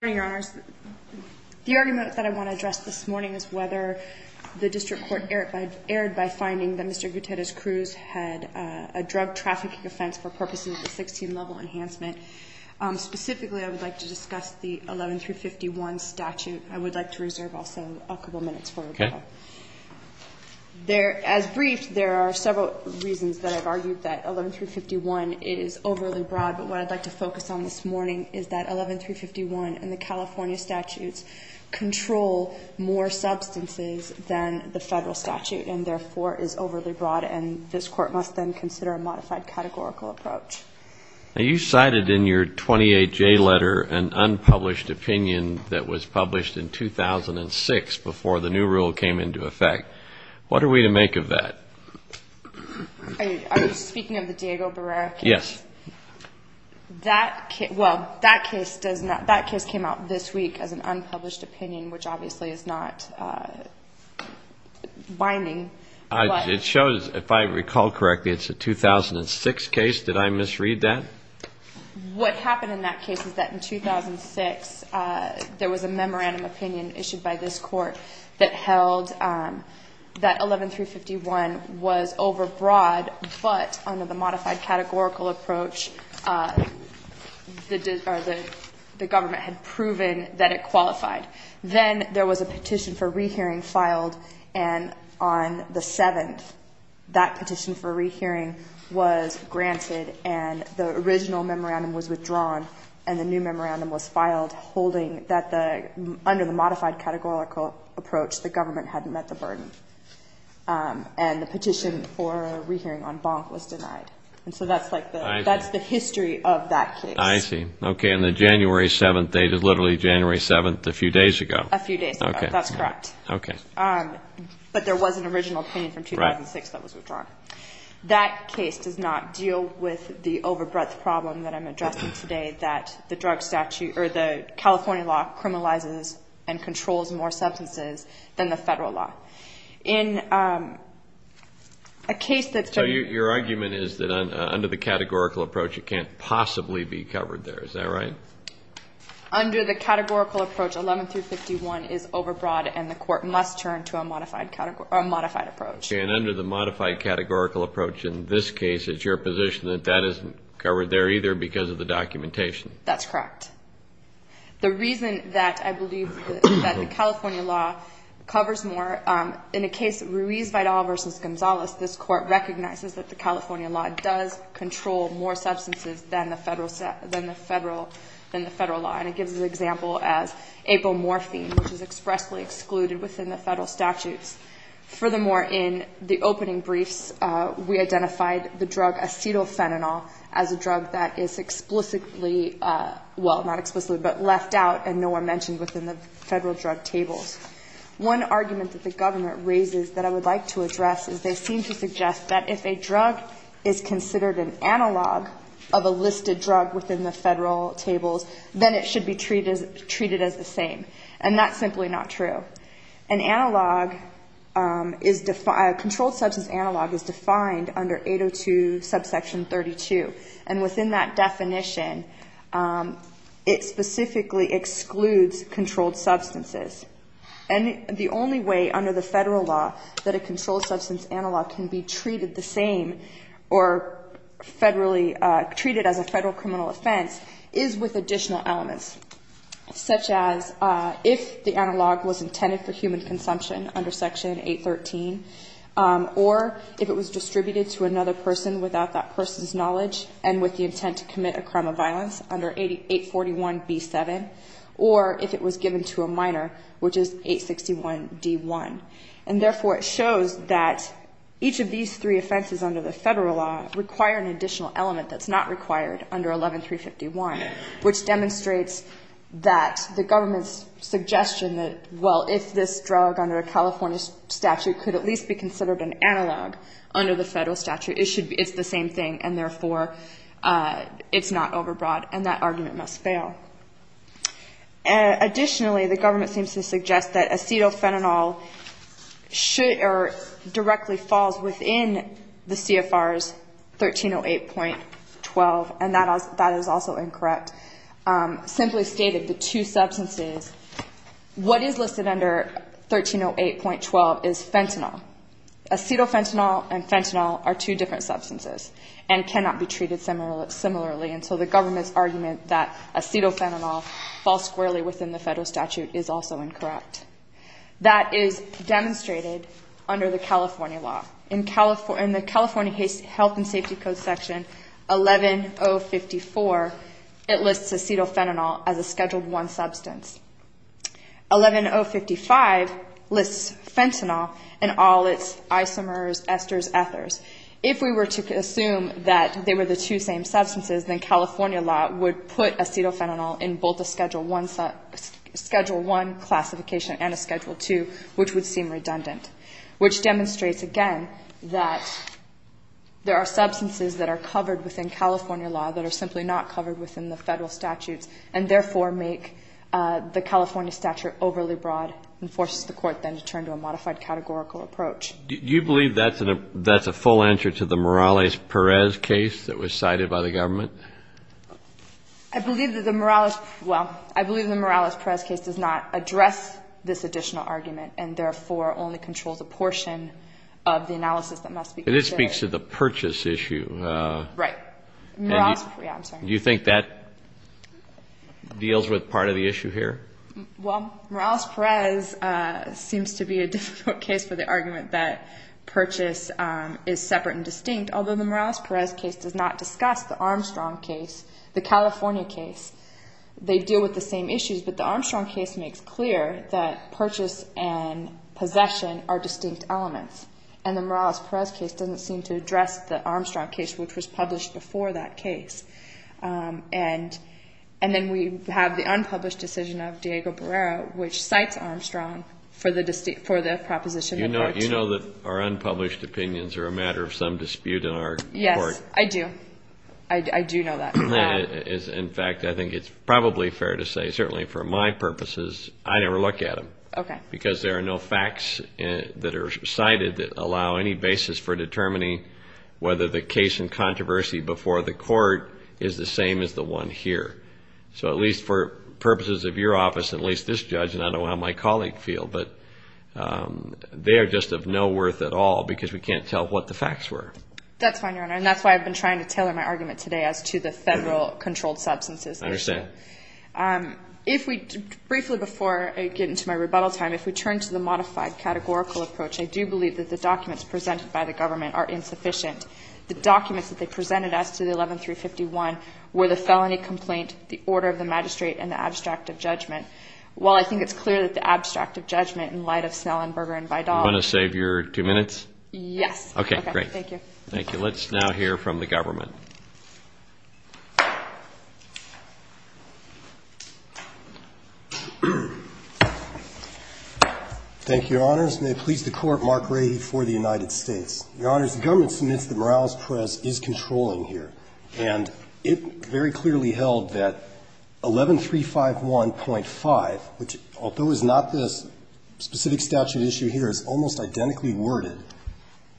The argument that I want to address this morning is whether the district court erred by finding that Mr. Gutierrez-Cruz had a drug trafficking offense for purposes of a 16-level enhancement. Specifically, I would like to discuss the 11-351 statute. I would like to reserve also a couple minutes for that. As briefed, there are several reasons that I've argued that 11-351 is overly broad, but what I'd like to focus on this morning is that 11-351 and the California statutes control more substances than the federal statute and, therefore, is overly broad. And this court must then consider a modified categorical approach. Now, you cited in your 28-J letter an unpublished opinion that was published in 2006 before the new rule came into effect. What are we to make of that? Are you speaking of the Diego Barrera case? Yes. Well, that case came out this week as an unpublished opinion, which obviously is not binding. It shows, if I recall correctly, it's a 2006 case. Did I misread that? What happened in that case is that in 2006, there was a memorandum opinion issued by this court that held that 11-351 was overbroad, but under the modified categorical approach, the government had proven that it qualified. Then there was a petition for rehearing filed, and on the 7th, that petition for rehearing was granted, and the original memorandum was withdrawn, and the new memorandum was filed holding that the under the modified categorical approach, the government hadn't met the burden, and the petition for rehearing on Bonk was denied. And so that's like the history of that case. I see. Okay, and the January 7th date is literally January 7th, a few days ago. A few days ago. Okay. That's correct. Okay. But there was an original opinion from 2006 that was withdrawn. That case does not deal with the overbreadth problem that I'm addressing today, that the California law criminalizes and controls more substances than the federal law. So your argument is that under the categorical approach, it can't possibly be covered there. Is that right? Under the categorical approach, 11-351 is overbroad, and the court must turn to a modified approach. Okay, and under the modified categorical approach in this case, it's your position that that isn't covered there either because of the documentation. That's correct. The reason that I believe that the California law covers more, in the case Ruiz-Vidal v. Gonzalez, this court recognizes that the California law does control more substances than the federal law, and it gives an example as apomorphine, which is expressly excluded within the federal statutes. Furthermore, in the opening briefs, we identified the drug acetylphenanol as a drug that is explicitly, well, not explicitly, but left out and no one mentioned within the federal drug tables. One argument that the government raises that I would like to address is they seem to suggest that if a drug is considered an analog of a listed drug within the federal tables, then it should be treated as the same. And that's simply not true. An analog is defined, a controlled substance analog is defined under 802 subsection 32. And within that definition, it specifically excludes controlled substances. And the only way under the federal law that a controlled substance analog can be treated the same or federally treated as a federal criminal offense is with additional elements, such as if the analog was intended for human consumption under section 813, or if it was distributed to another person without that person's knowledge and with the intent to commit a crime of violence under 841B7, or if it was given to a minor, which is 861D1. And therefore, it shows that each of these three offenses under the federal law require an additional element that's not required under 11351, which demonstrates that the government's suggestion that, well, if this drug under a California statute could at least be considered an analog under the federal statute, it's the same thing, and therefore, it's not overbroad. And that argument must fail. Additionally, the government seems to suggest that acetophenanol should or directly falls within the CFR's 1308.12, and that is also incorrect. Simply stated, the two substances, what is listed under 1308.12 is fentanyl. Acetophenanol and fentanyl are two different substances and cannot be treated similarly. And so the government's argument that acetophenanol falls squarely within the federal statute is also incorrect. That is demonstrated under the California law. In the California Health and Safety Code section 11054, it lists acetophenanol as a Schedule I substance. 11055 lists fentanyl and all its isomers, esters, ethers. If we were to assume that they were the two same substances, then California law would put acetophenanol in both a Schedule I classification and a Schedule II, which would seem redundant, which demonstrates, again, that there are substances that are covered within California law that are simply not covered within the federal statutes and therefore make the California statute overly broad and forces the Court then to turn to a modified categorical approach. Do you believe that's a full answer to the Morales-Perez case that was cited by the government? I believe that the Morales – well, I believe the Morales-Perez case does not address this additional argument and therefore only controls a portion of the analysis that must be considered. But it speaks to the purchase issue. Right. Morales – yeah, I'm sorry. Do you think that deals with part of the issue here? Well, Morales-Perez seems to be a difficult case for the argument that purchase is separate and distinct, although the Morales-Perez case does not discuss the Armstrong case, the California case. They deal with the same issues, but the Armstrong case makes clear that purchase and possession are distinct elements, and the Morales-Perez case doesn't seem to address the Armstrong case, which was published before that case. And then we have the unpublished decision of Diego Barrera, which cites Armstrong for the proposition of Part 2. You know that our unpublished opinions are a matter of some dispute in our Court. Yes, I do. I do know that. In fact, I think it's probably fair to say, certainly for my purposes, I never look at them. Okay. Because there are no facts that are cited that allow any basis for determining whether the case in controversy before the Court is the same as the one here. So at least for purposes of your office, at least this judge, and I don't know how my colleague feel, but they are just of no worth at all because we can't tell what the facts were. That's fine, Your Honor, and that's why I've been trying to tailor my argument today as to the federal controlled substances issue. I understand. Briefly, before I get into my rebuttal time, if we turn to the modified categorical approach, I do believe that the documents presented by the government are insufficient. The documents that they presented as to the 11351 were the felony complaint, the order of the magistrate, and the abstract of judgment. While I think it's clear that the abstract of judgment in light of Snellenberger and Vidal. You want to save your two minutes? Yes. Okay, great. Thank you. Thank you. Let's now hear from the government. Thank you, Your Honors. May it please the Court, Mark Rady for the United States. Your Honors, the government submits that Morales Press is controlling here. And it very clearly held that 11351.5, which although is not this specific statute issue here, is almost identically worded,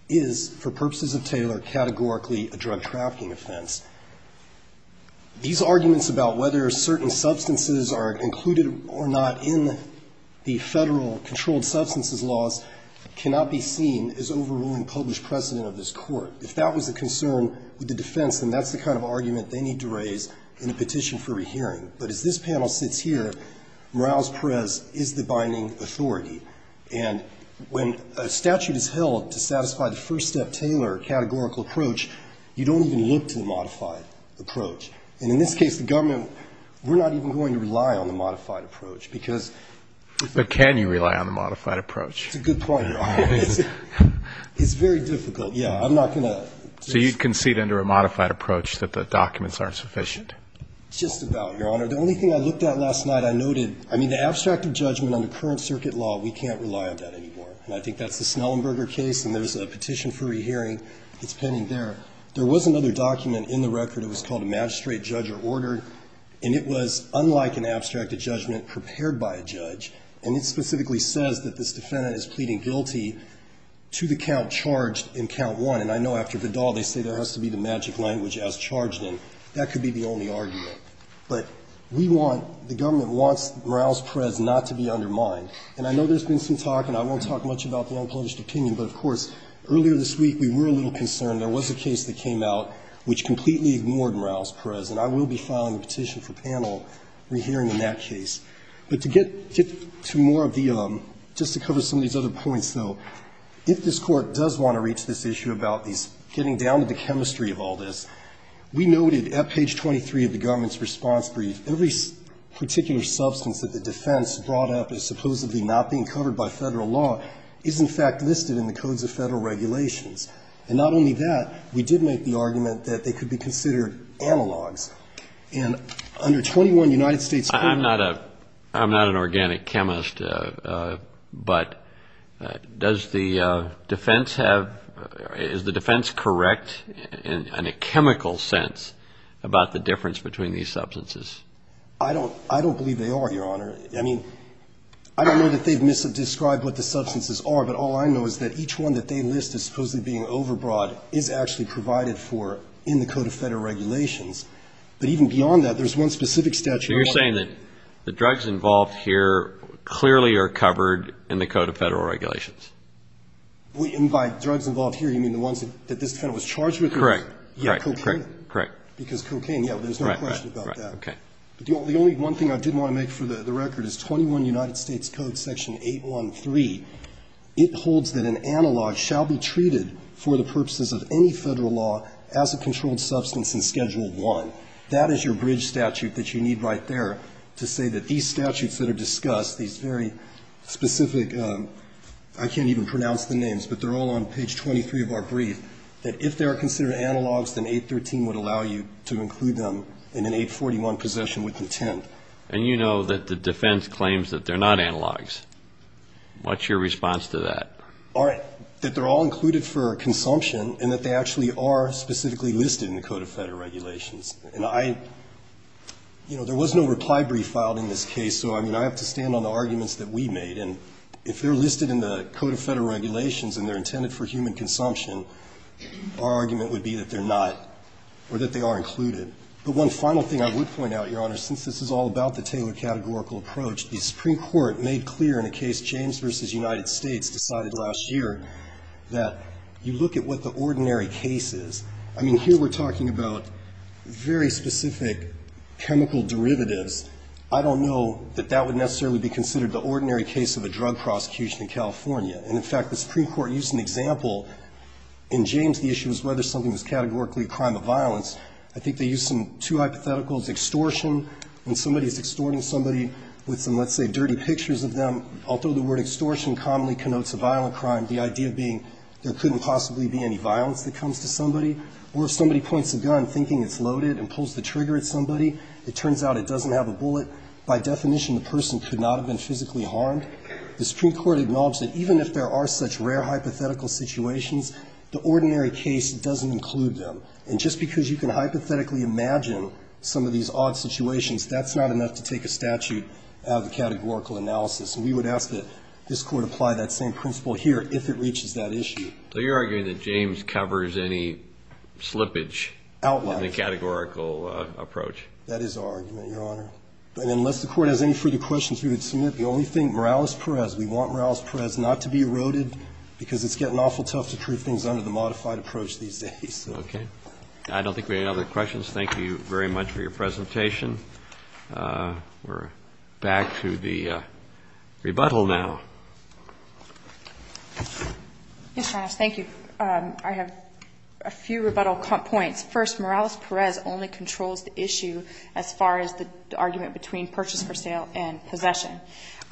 is, for purposes of Taylor, categorically a drug trafficking offense. These arguments about whether certain substances are included or not in the federal controlled substances laws cannot be seen as overruling published precedent of this Court. If that was a concern with the defense, then that's the kind of argument they need to raise in a petition for When a statute is held to satisfy the first-step Taylor categorical approach, you don't even look to the modified approach. And in this case, the government, we're not even going to rely on the modified approach, because But can you rely on the modified approach? That's a good point, Your Honor. It's very difficult. Yeah, I'm not going to So you concede under a modified approach that the documents aren't sufficient? Just about, Your Honor. The only thing I looked at last night, I noted, I mean, the abstract of judgment under current circuit law, we can't rely on that anymore. And I think that's the Snellenberger case, and there's a petition for rehearing that's pending there. There was another document in the record. It was called a magistrate judge or order. And it was unlike an abstract of judgment prepared by a judge. And it specifically says that this defendant is pleading guilty to the count charged in count one. And I know after Vidal, they say there has to be the magic language as charged in. That could be the only argument. But we want, the government wants Morales-Perez not to be undermined. And I know there's been some talk, and I won't talk much about the unpublished opinion, but, of course, earlier this week we were a little concerned. There was a case that came out which completely ignored Morales-Perez. And I will be filing a petition for panel rehearing in that case. But to get to more of the, just to cover some of these other points, though, if this Court does want to reach this issue about these, getting down to the chemistry of all this, we noted at page 23 of the government's response brief, every particular substance that the defense brought up as supposedly not being covered by Federal law is, in fact, listed in the codes of Federal regulations. And not only that, we did make the argument that they could be considered analogs. And under 21, United States Court of Appeals ---- I'm not a, I'm not an organic chemist. But does the defense have, is the defense correct in a chemical sense about the difference between these substances? I don't, I don't believe they are, Your Honor. I mean, I don't know that they've described what the substances are, but all I know is that each one that they list as supposedly being overbrought is actually provided for in the code of Federal regulations. But even beyond that, there's one specific statute ---- So you're saying that the drugs involved here clearly are covered in the code of Federal regulations? And by drugs involved here, you mean the ones that this defendant was charged with? Correct. Yeah, cocaine. Correct. Because cocaine, yeah, there's no question about that. Right, right, right. Okay. But the only one thing I did want to make for the record is 21 United States Code Section 813. It holds that an analog shall be treated for the purposes of any Federal law as a controlled substance in Schedule I. So that is your bridge statute that you need right there to say that these statutes that are discussed, these very specific, I can't even pronounce the names, but they're all on page 23 of our brief, that if they are considered analogs, then 813 would allow you to include them in an 841 possession with intent. And you know that the defense claims that they're not analogs. What's your response to that? All right. That they're all included for consumption and that they actually are specifically listed in the Code of Federal Regulations. And I, you know, there was no reply brief filed in this case, so, I mean, I have to stand on the arguments that we made. And if they're listed in the Code of Federal Regulations and they're intended for human consumption, our argument would be that they're not or that they are included. But one final thing I would point out, Your Honor, since this is all about the Taylor categorical approach, the Supreme Court made clear in a case, James v. United States, decided last year that you look at what the ordinary case is. I mean, here we're talking about very specific chemical derivatives. I don't know that that would necessarily be considered the ordinary case of a drug prosecution in California. And, in fact, the Supreme Court used an example. In James, the issue was whether something was categorically a crime of violence. I think they used some two hypotheticals, extortion, when somebody's extorting somebody with some, let's say, dirty pictures of them. Although the word extortion commonly connotes a violent crime, the idea being there couldn't possibly be any violence that comes to somebody. Or if somebody points a gun thinking it's loaded and pulls the trigger at somebody, it turns out it doesn't have a bullet. By definition, the person could not have been physically harmed. The Supreme Court acknowledged that even if there are such rare hypothetical situations, the ordinary case doesn't include them. And just because you can hypothetically imagine some of these odd situations, that's not enough to take a statute out of the categorical analysis. And we would ask that this Court apply that same principle here if it reaches that point. So you're arguing that James covers any slippage in the categorical approach? That is our argument, Your Honor. But unless the Court has any further questions, we would submit. The only thing, Morales-Perez, we want Morales-Perez not to be eroded because it's getting awful tough to prove things under the modified approach these days. Okay. I don't think we have any other questions. Thank you very much for your presentation. We're back to the rebuttal now. Yes, Your Honor. Thank you. I have a few rebuttal points. First, Morales-Perez only controls the issue as far as the argument between purchase for sale and possession.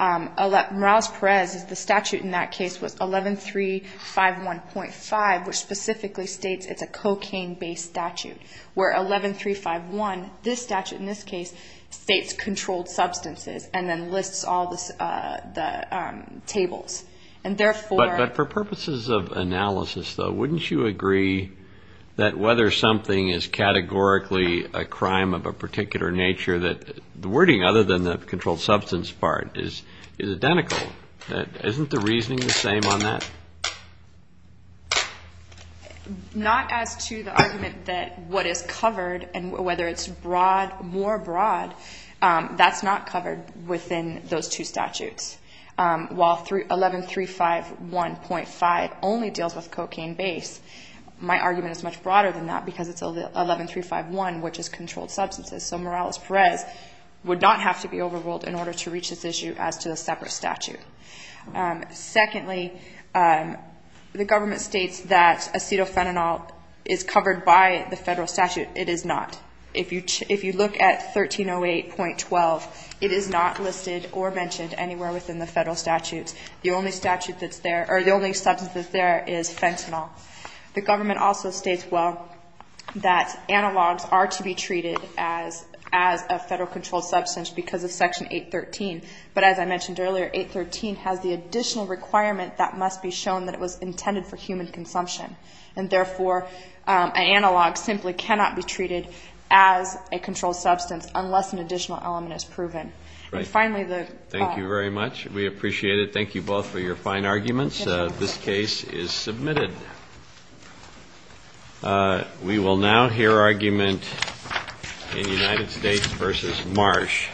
Morales-Perez, the statute in that case was 11351.5, which specifically states it's a cocaine-based statute, where 11351, this statute in this case, states all the tables. But for purposes of analysis, though, wouldn't you agree that whether something is categorically a crime of a particular nature, that the wording other than the controlled substance part is identical? Isn't the reasoning the same on that? Not as to the argument that what is covered and whether it's broad, more broad, that's not covered within those two statutes. While 11351.5 only deals with cocaine base, my argument is much broader than that because it's 11351, which is controlled substances. So Morales-Perez would not have to be overruled in order to reach this issue as to a separate statute. Secondly, the government states that acetophenanol is covered by the federal statute. It is not. If you look at 1308.12, it is not listed or mentioned anywhere within the federal statutes. The only statute that's there, or the only substance that's there is fentanyl. The government also states, well, that analogs are to be treated as a federal controlled substance because of Section 813. But as I mentioned earlier, 813 has the additional requirement that must be shown that it was intended for human consumption. And, therefore, an analog simply cannot be treated as a controlled substance unless an additional element is proven. And, finally, the... Thank you very much. We appreciate it. Thank you both for your fine arguments. This case is submitted. We will now hear argument in United States v. Marsh. Thank you very much.